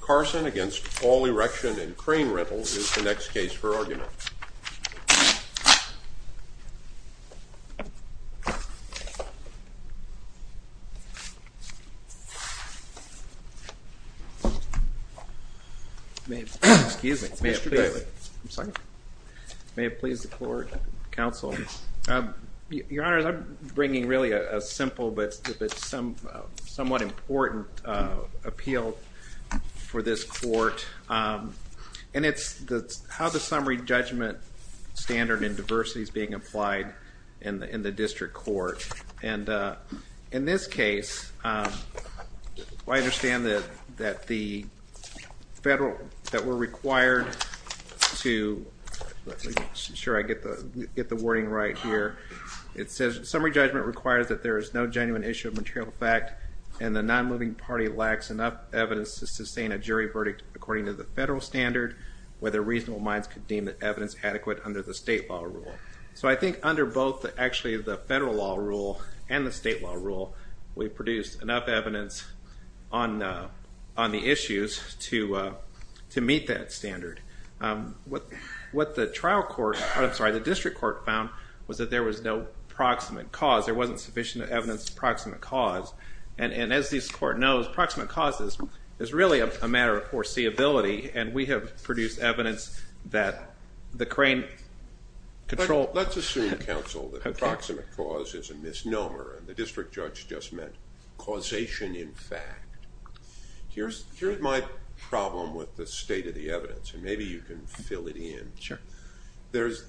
Carson v. All Erection & Crane Rental Co is the next case for argument. May it please the Court, Counsel. Your Honor, I'm bringing really a simple but somewhat important appeal for this court. And it's how the summary judgment standard in diversity is being applied in the district court. And in this case, I understand that the federal, that we're required to, make sure I get the wording right here. It says, summary judgment requires that there is no genuine issue of material fact and the non-moving party lacks enough evidence to sustain a jury verdict according to the federal standard, whether reasonable minds could deem the evidence adequate under the state law rule. So I think under both, actually, the federal law rule and the state law rule, we've produced enough evidence on the issues to meet that standard. What the trial court, I'm sorry, the district court found was that there was no proximate cause. There wasn't sufficient evidence of proximate cause. And as this court knows, proximate cause is really a matter of foreseeability, and we have produced evidence that the crane control. Let's assume, Counsel, that proximate cause is a misnomer, and the district judge just meant causation in fact. Here's my problem with the state of the evidence, and maybe you can fill it in. There's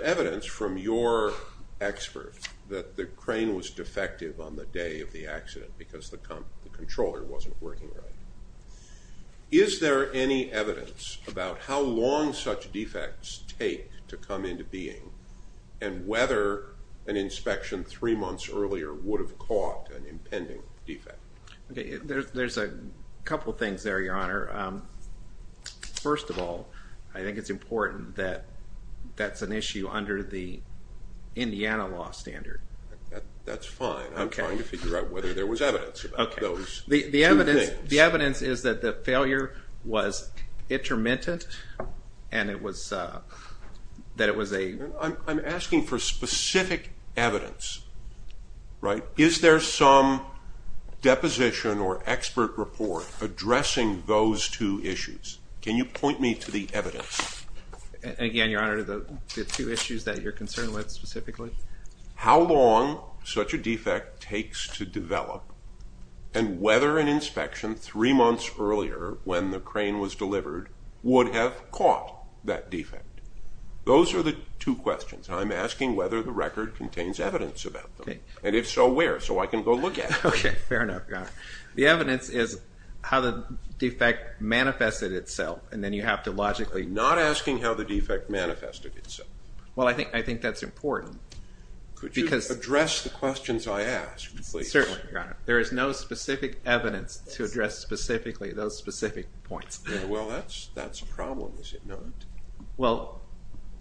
evidence from your expert that the crane was defective on the day of the accident because the controller wasn't working right. Is there any evidence about how long such defects take to come into being, and whether an inspection three months earlier would have caught an impending defect? There's a couple things there, Your Honor. First of all, I think it's important that that's an issue under the Indiana law standard. That's fine. I'm trying to figure out whether there was evidence about those two things. The evidence is that the failure was intermittent, and it was a... I'm asking for specific evidence, right? Is there some deposition or expert report addressing those two issues? Can you point me to the evidence? Again, Your Honor, the two issues that you're concerned with specifically? How long such a defect takes to develop, and whether an inspection three months earlier when the crane was delivered would have caught that defect. Those are the two questions. I'm asking whether the record contains evidence about them. And if so, where? So I can go look at it. Okay, fair enough, Your Honor. The evidence is how the defect manifested itself, and then you have to logically... I'm not asking how the defect manifested itself. Well, I think that's important. Could you address the questions I ask, please? Certainly, Your Honor. There is no specific evidence to address specifically those specific points. Well, that's a problem, is it not? Well,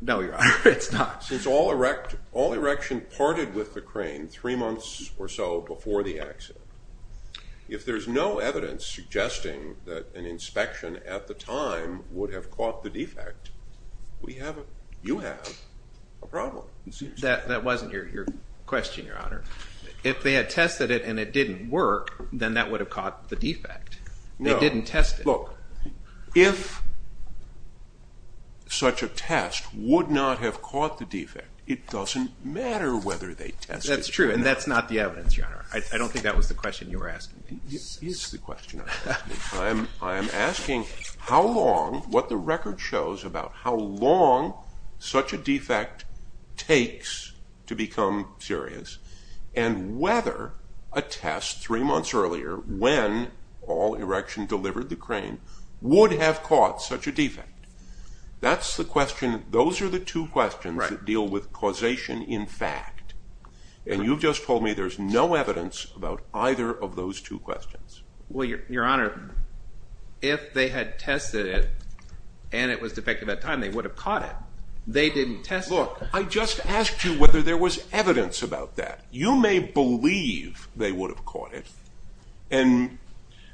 no, Your Honor, it's not. Since all erection parted with the crane three months or so before the accident, if there's no evidence suggesting that an inspection at the time would have caught the defect, you have a problem. That wasn't your question, Your Honor. If they had tested it and it didn't work, then that would have caught the defect. No. They didn't test it. Look, if such a test would not have caught the defect, it doesn't matter whether they tested it or not. That's true, and that's not the evidence, Your Honor. I don't think that was the question you were asking. It is the question I'm asking. I am asking how long, what the record shows about how long such a defect takes to become serious, and whether a test three months earlier, when all erection delivered the crane, would have caught such a defect. Those are the two questions that deal with causation in fact, and you've just told me there's no evidence about either of those two questions. Well, Your Honor, if they had tested it and it was defective at the time, they would have caught it. They didn't test it. Look, I just asked you whether there was evidence about that. You may believe they would have caught it, and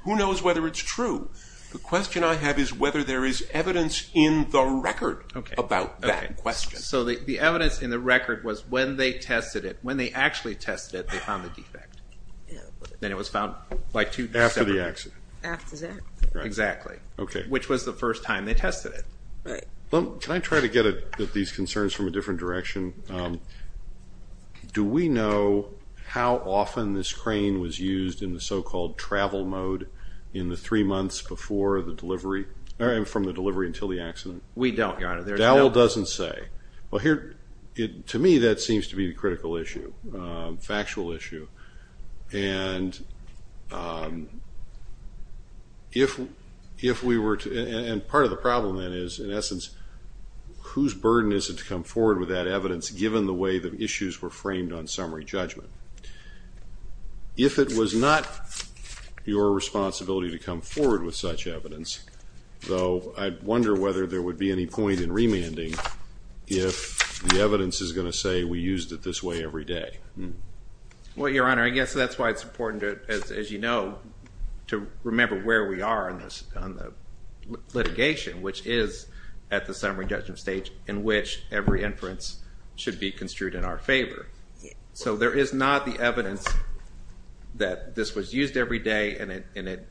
who knows whether it's true. The question I have is whether there is evidence in the record about that question. So the evidence in the record was when they tested it, when they actually tested it, they found the defect. Then it was found by 2 December. After the accident. After that. Exactly. Okay. Which was the first time they tested it. Right. Well, can I try to get at these concerns from a different direction? Okay. Do we know how often this crane was used in the so-called travel mode in the three months before the delivery, or from the delivery until the accident? We don't, Your Honor. Dowell doesn't say. Well, here, to me, that seems to be a critical issue, a factual issue, and if we were to, and part of the problem then is, in essence, whose burden is it to come forward with that evidence, given the way the issues were framed on summary judgment? If it was not your responsibility to come forward with such evidence, though I wonder whether there would be any point in remanding if the evidence is going to say we used it this way every day. Well, Your Honor, I guess that's why it's important, as you know, to remember where we are on the litigation, which is at the summary judgment stage in which every inference should be construed in our favor. So there is not the evidence that this was used every day and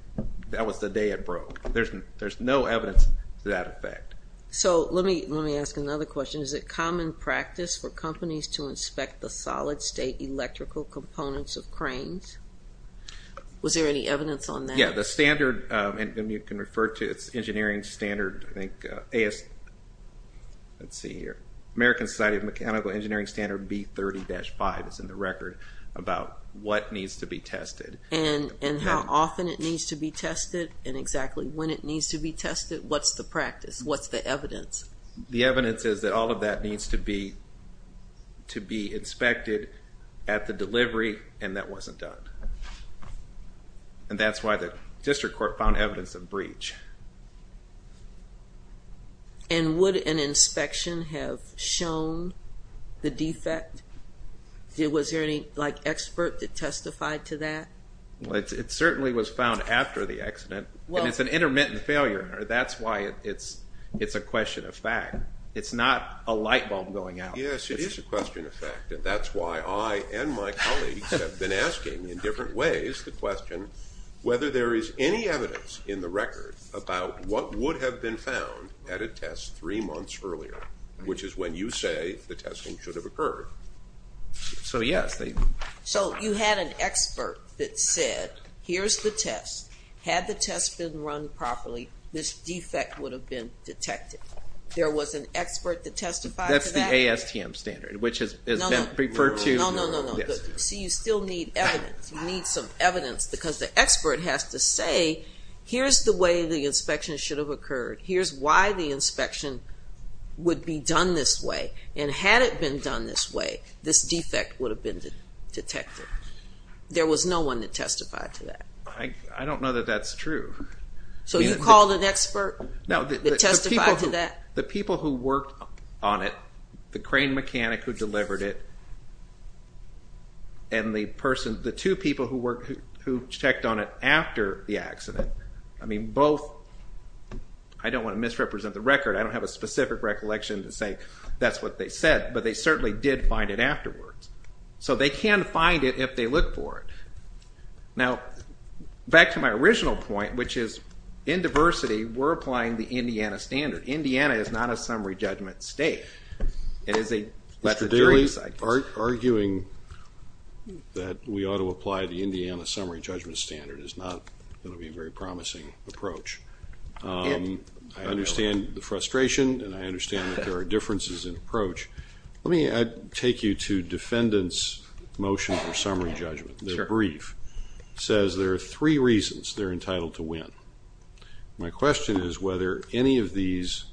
that was the day it broke. There's no evidence to that effect. So let me ask another question. Is it common practice for companies to inspect the solid-state electrical components of cranes? Was there any evidence on that? Yeah, the standard, and you can refer to its engineering standard, I think, American Society of Mechanical Engineering Standard B30-5 is in the record, about what needs to be tested. And how often it needs to be tested and exactly when it needs to be tested? What's the practice? What's the evidence? The evidence is that all of that needs to be inspected at the delivery and that wasn't done. And that's why the district court found evidence of breach. And would an inspection have shown the defect? Was there any, like, expert that testified to that? And it's an intermittent failure. That's why it's a question of fact. It's not a light bulb going out. Yes, it is a question of fact, and that's why I and my colleagues have been asking in different ways the question whether there is any evidence in the record about what would have been found at a test three months earlier, which is when you say the testing should have occurred. So, yes. So you had an expert that said, here's the test. Had the test been run properly, this defect would have been detected. There was an expert that testified to that? That's the ASTM standard, which has been referred to. No, no, no. See, you still need evidence. You need some evidence because the expert has to say, here's the way the inspection should have occurred. Here's why the inspection would be done this way. And had it been done this way, this defect would have been detected. There was no one that testified to that. I don't know that that's true. So you called an expert that testified to that? The people who worked on it, the crane mechanic who delivered it, and the person, the two people who checked on it after the accident, I mean, both, I don't want to misrepresent the record. I don't have a specific recollection to say that's what they said. But they certainly did find it afterwards. So they can find it if they look for it. Now, back to my original point, which is, in diversity, we're applying the Indiana standard. Indiana is not a summary judgment state. It is a letter of jury. Mr. Daly, arguing that we ought to apply the Indiana summary judgment standard is not going to be a very promising approach. I understand the frustration, and I understand that there are differences in approach. Let me take you to defendants' motion for summary judgment, their brief. It says there are three reasons they're entitled to win. My question is whether any of these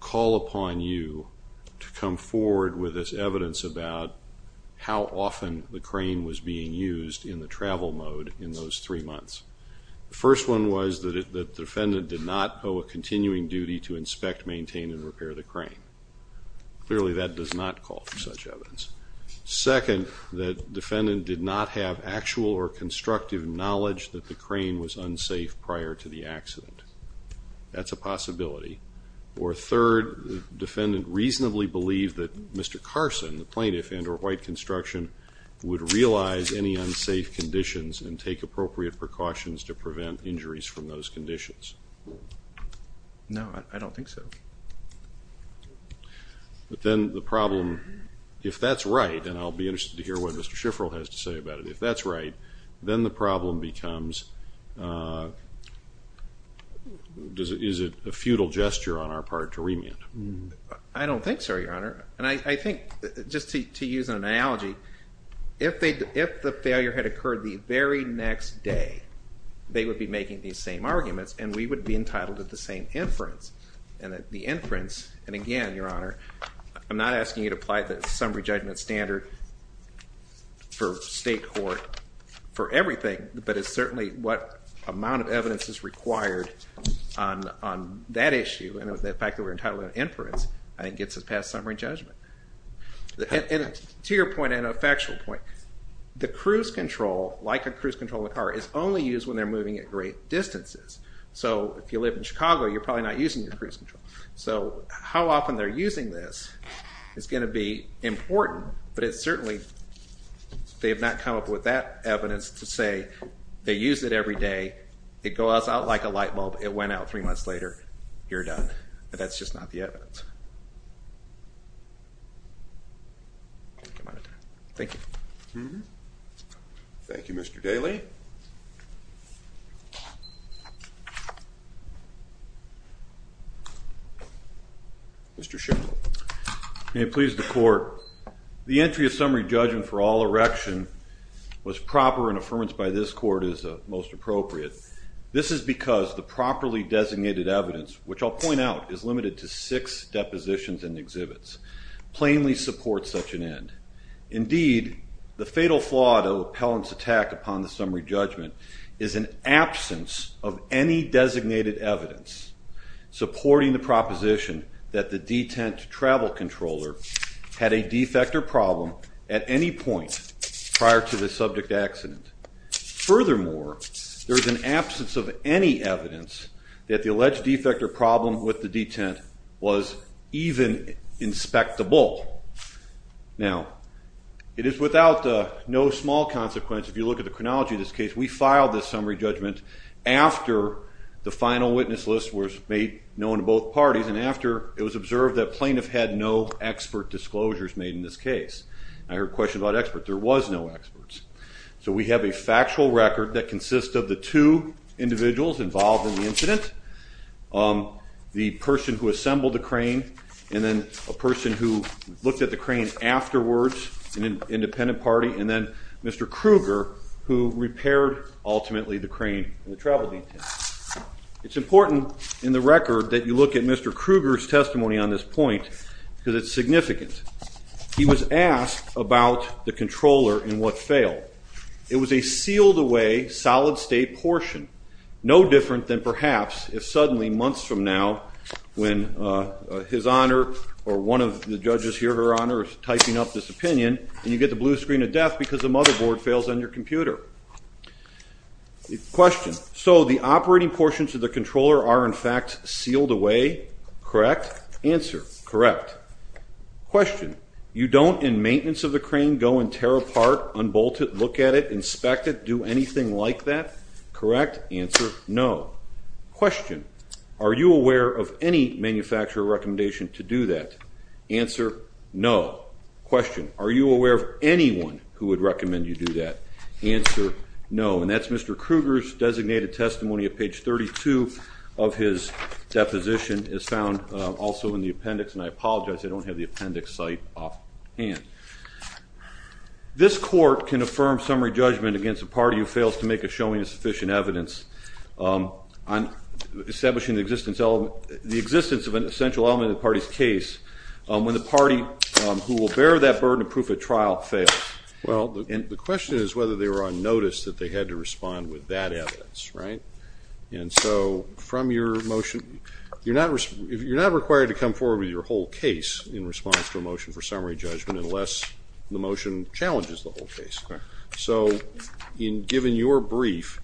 call upon you to come forward with this evidence about how often the crane was being used in the travel mode in those three months. The first one was that the defendant did not owe a continuing duty to inspect, maintain, and repair the crane. Clearly, that does not call for such evidence. Second, the defendant did not have actual or constructive knowledge that the crane was unsafe prior to the accident. That's a possibility. Or third, the defendant reasonably believed that Mr. Carson, the plaintiff, and or white construction would realize any unsafe conditions and take appropriate precautions to prevent injuries from those conditions. No, I don't think so. But then the problem, if that's right, and I'll be interested to hear what Mr. Schifferl has to say about it, if that's right, then the problem becomes is it a futile gesture on our part to remand? I don't think so, Your Honor. And I think, just to use an analogy, if the failure had occurred the very next day, they would be making these same arguments, and we would be entitled to the same inference. And the inference, and again, Your Honor, I'm not asking you to apply the summary judgment standard for state court for everything, but it's certainly what amount of evidence is required on that issue, and the fact that we're entitled to inference, I think, gets us past summary judgment. To your point, and a factual point, the cruise control, like a cruise control in a car, is only used when they're moving at great distances. So if you live in Chicago, you're probably not using your cruise control. So how often they're using this is going to be important, but it's certainly, they have not come up with that evidence to say they use it every day, it goes out like a light bulb, it went out three months later, you're done. That's just not the evidence. Thank you. Thank you, Mr. Daly. Mr. Schiff. May it please the Court. The entry of summary judgment for all erection was proper and affirmed by this Court as most appropriate. This is because the properly designated evidence, which I'll point out, is limited to six depositions and exhibits, plainly supports such an end. Indeed, the fatal flaw of the appellant's attack upon the summary judgment is an absence of any designated evidence supporting the proposition that the detent travel controller had a defect or problem at any point prior to the subject accident. Furthermore, there is an absence of any evidence that the alleged defect or problem with the detent was even inspectable. Now, it is without no small consequence, if you look at the chronology of this case, we filed this summary judgment after the final witness list was made known to both parties and after it was observed that plaintiff had no expert disclosures made in this case. I heard questions about experts. There was no experts. So we have a factual record that consists of the two individuals involved in the incident, the person who assembled the crane and then a person who looked at the crane afterwards, an independent party, and then Mr. Kruger, who repaired, ultimately, the crane and the travel detent. It's important in the record that you look at Mr. Kruger's testimony on this point because it's significant. He was asked about the controller and what failed. It was a sealed-away, solid-state portion, no different than perhaps if suddenly, months from now, when his honor or one of the judges here, her honor, is typing up this opinion, and you get the blue screen of death because the motherboard fails on your computer. Question. So the operating portions of the controller are, in fact, sealed away? Correct. Answer. Correct. Question. You don't, in maintenance of the crane, go and tear apart, unbolt it, look at it, inspect it, do anything like that? Correct. Answer. No. Question. Are you aware of any manufacturer recommendation to do that? Answer. No. Question. Are you aware of anyone who would recommend you do that? Answer. No. And that's Mr. Kruger's designated testimony at page 32 of his deposition, as found also in the appendix, and I apologize, I don't have the appendix site offhand. This court can affirm summary judgment against a party who fails to make a showing of sufficient evidence on establishing the existence of an essential element in the party's case when the party who will bear that burden of proof at trial fails. Well, the question is whether they were on notice that they had to respond with that evidence, right? And so from your motion, you're not required to come forward with your whole case in response to a motion for summary judgment unless the motion challenges the whole case. So given your brief,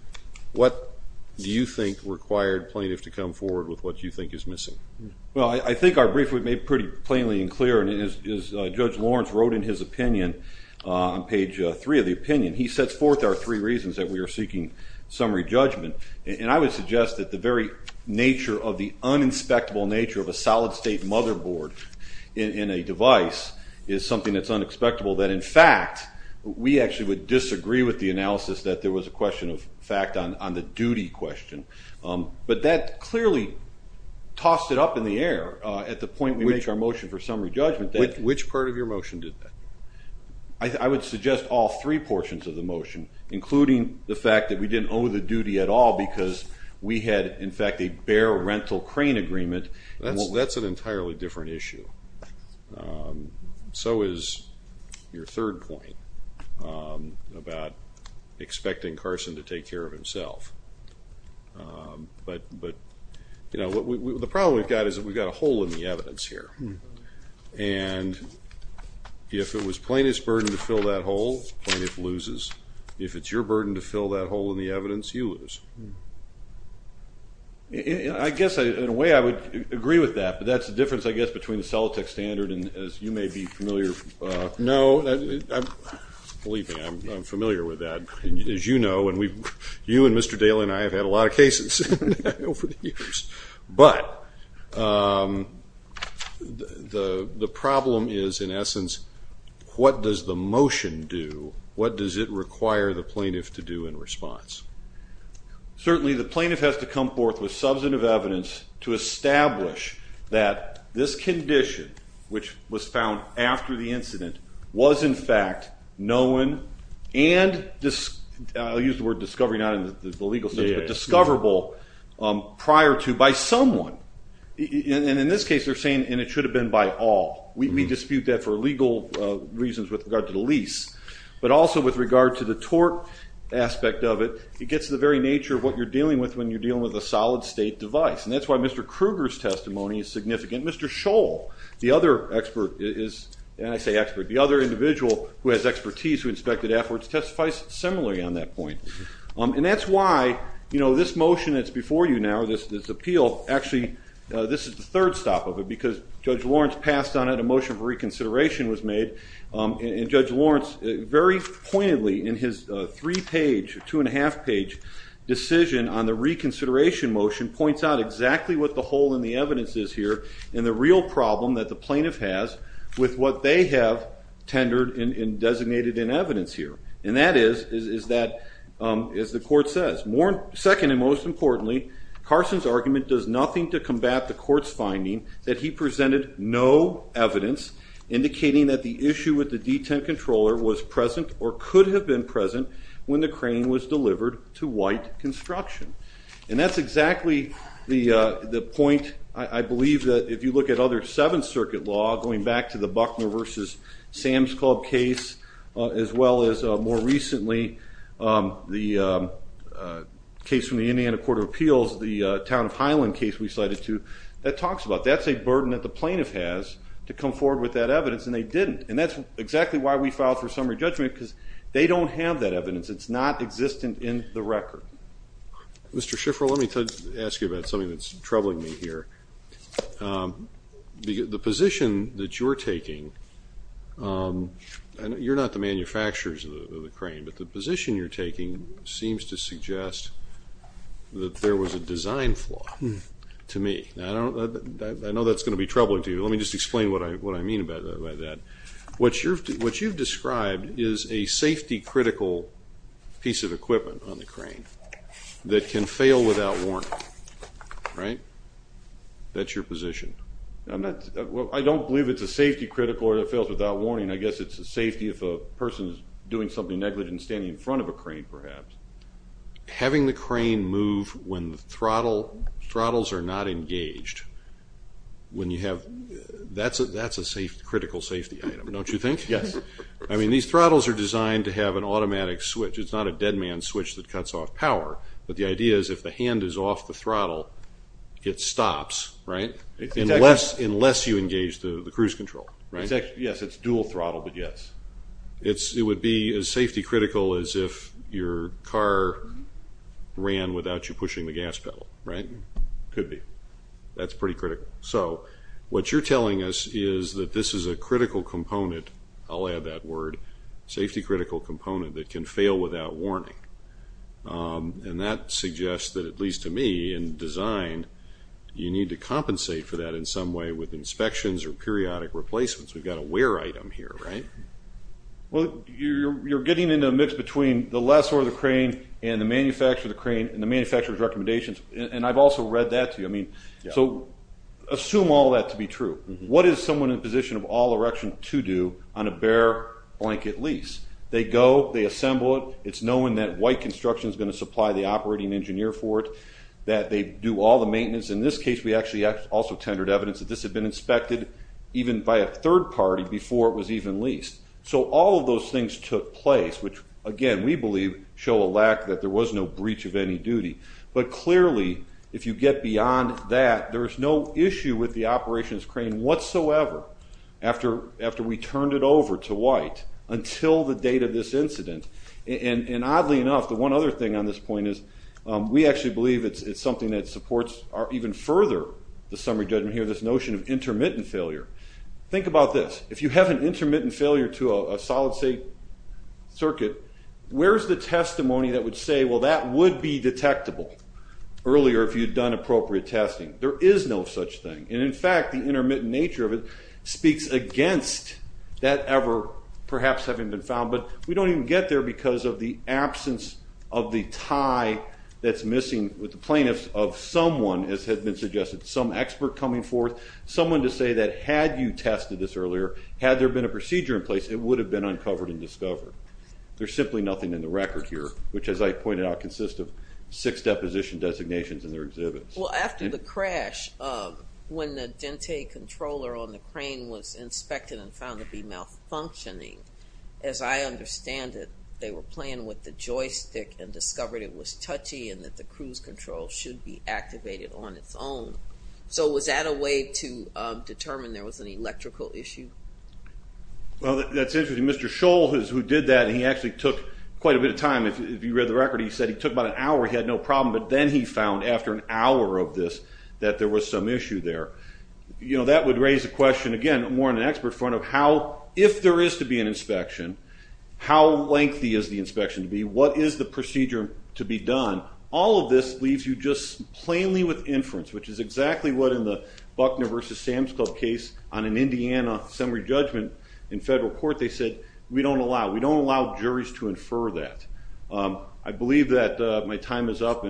what do you think required plaintiffs to come forward with what you think is missing? Well, I think our brief was made pretty plainly and clear, and as Judge Lawrence wrote in his opinion on page 3 of the opinion, he sets forth our three reasons that we are seeking summary judgment, and I would suggest that the very nature of the uninspectable nature of a solid-state motherboard in a device is something that's unexpectable, that in fact we actually would disagree with the analysis that there was a question of fact on the duty question. But that clearly tossed it up in the air at the point we make our motion for summary judgment. Which part of your motion did that? I would suggest all three portions of the motion, including the fact that we didn't owe the duty at all because we had, in fact, a bare rental crane agreement. That's an entirely different issue. So is your third point about expecting Carson to take care of himself. But the problem we've got is that we've got a hole in the evidence here, and if it was plaintiff's burden to fill that hole, plaintiff loses. If it's your burden to fill that hole in the evidence, you lose. I guess in a way I would agree with that, but that's the difference, I guess, between the Solitec standard and, as you may be familiar, no, believe me, I'm familiar with that, as you know, and you and Mr. Daley and I have had a lot of cases over the years. But the problem is, in essence, what does the motion do? What does it require the plaintiff to do in response? Certainly the plaintiff has to come forth with substantive evidence to establish that this condition, which was found after the incident, was, in fact, known and, I'll use the word discovery not in the legal sense, but discoverable prior to by someone. And in this case they're saying, and it should have been by all. We dispute that for legal reasons with regard to the lease. But also with regard to the tort aspect of it, it gets to the very nature of what you're dealing with when you're dealing with a solid-state device. And that's why Mr. Kruger's testimony is significant. Mr. Scholl, the other expert, and I say expert, the other individual who has expertise, who inspected afterwards, testifies similarly on that point. And that's why this motion that's before you now, this appeal, actually this is the third stop of it because Judge Lawrence passed on it, a motion for reconsideration was made, and Judge Lawrence very pointedly in his three-page, two-and-a-half-page decision on the reconsideration motion, points out exactly what the hole in the evidence is here and the real problem that the plaintiff has with what they have tendered and designated in evidence here. And that is that, as the court says, second and most importantly, Carson's argument does nothing to combat the court's finding that he presented no evidence indicating that the issue with the detent controller was present or could have been present when the crane was delivered to White Construction. And that's exactly the point, I believe, that if you look at other Seventh Circuit law, going back to the Buckner v. Sam's Club case, as well as more recently the case from the Indiana Court of Appeals, the Town of Highland case we cited too, that talks about that. That's a burden that the plaintiff has to come forward with that evidence, and they didn't. And that's exactly why we filed for summary judgment because they don't have that evidence. It's not existent in the record. Mr. Schifferl, let me ask you about something that's troubling me here. The position that you're taking, you're not the manufacturers of the crane, but the position you're taking seems to suggest that there was a design flaw to me. I know that's going to be troubling to you. Let me just explain what I mean by that. What you've described is a safety-critical piece of equipment on the crane that can fail without warning, right? That's your position. I don't believe it's a safety-critical or it fails without warning. I guess it's a safety if a person is doing something negligent and standing in front of a crane, perhaps. Having the crane move when the throttles are not engaged, that's a critical safety item, don't you think? Yes. I mean, these throttles are designed to have an automatic switch. It's not a dead man's switch that cuts off power. But the idea is if the hand is off the throttle, it stops, right, unless you engage the cruise control, right? Yes, it's dual throttle, but yes. It would be as safety-critical as if your car ran without you pushing the gas pedal, right? It could be. That's pretty critical. So what you're telling us is that this is a critical component. I'll add that word, safety-critical component that can fail without warning. And that suggests that, at least to me, in design, you need to compensate for that in some way with inspections or periodic replacements. We've got a wear item here, right? Well, you're getting into a mix between the lessor of the crane and the manufacturer of the crane and the manufacturer's recommendations. And I've also read that to you. I mean, so assume all that to be true. What is someone in a position of all erection to do on a bare-blanket lease? They go, they assemble it. It's knowing that White Construction is going to supply the operating engineer for it, that they do all the maintenance. In this case, we actually also tendered evidence that this had been inspected even by a third party before it was even leased. So all of those things took place, which, again, we believe show a lack that there was no breach of any duty. But clearly, if you get beyond that, there is no issue with the operations crane whatsoever after we turned it over to White until the date of this incident. And oddly enough, the one other thing on this point is we actually believe it's something that supports even further the summary judgment here, this notion of intermittent failure. Think about this. If you have an intermittent failure to a solid state circuit, where's the testimony that would say, well, that would be detectable earlier if you'd done appropriate testing? There is no such thing. And in fact, the intermittent nature of it speaks against that ever perhaps having been found. But we don't even get there because of the absence of the tie that's missing with the plaintiffs of someone, as has been suggested, some expert coming forth, someone to say that had you tested this earlier, had there been a procedure in place, it would have been uncovered and discovered. There's simply nothing in the record here, which, as I pointed out, consists of six deposition designations in their exhibits. Well, after the crash, when the dente controller on the crane was inspected and found to be malfunctioning, as I understand it, they were playing with the joystick and discovered it was touchy and that the cruise control should be activated on its own. So was that a way to determine there was an electrical issue? Well, that's interesting. Mr. Scholl is who did that, and he actually took quite a bit of time. If you read the record, he said he took about an hour. He had no problem. But then he found, after an hour of this, that there was some issue there. That would raise the question, again, more in an expert front of how, if there is to be an inspection, how lengthy is the inspection to be? What is the procedure to be done? All of this leaves you just plainly with inference, which is exactly what, in the Buckner v. Sam's Club case on an Indiana summary judgment in federal court, they said, we don't allow. We don't allow juries to infer that. I believe that my time is up.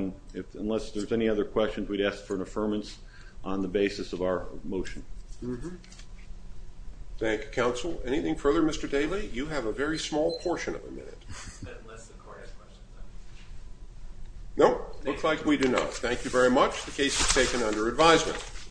Unless there's any other questions, we'd ask for an affirmance on the basis of our motion. Thank you, counsel. Anything further, Mr. Daley? You have a very small portion of a minute. Unless the court has questions. Nope. Looks like we do not. Thank you very much. The case is taken under advisement.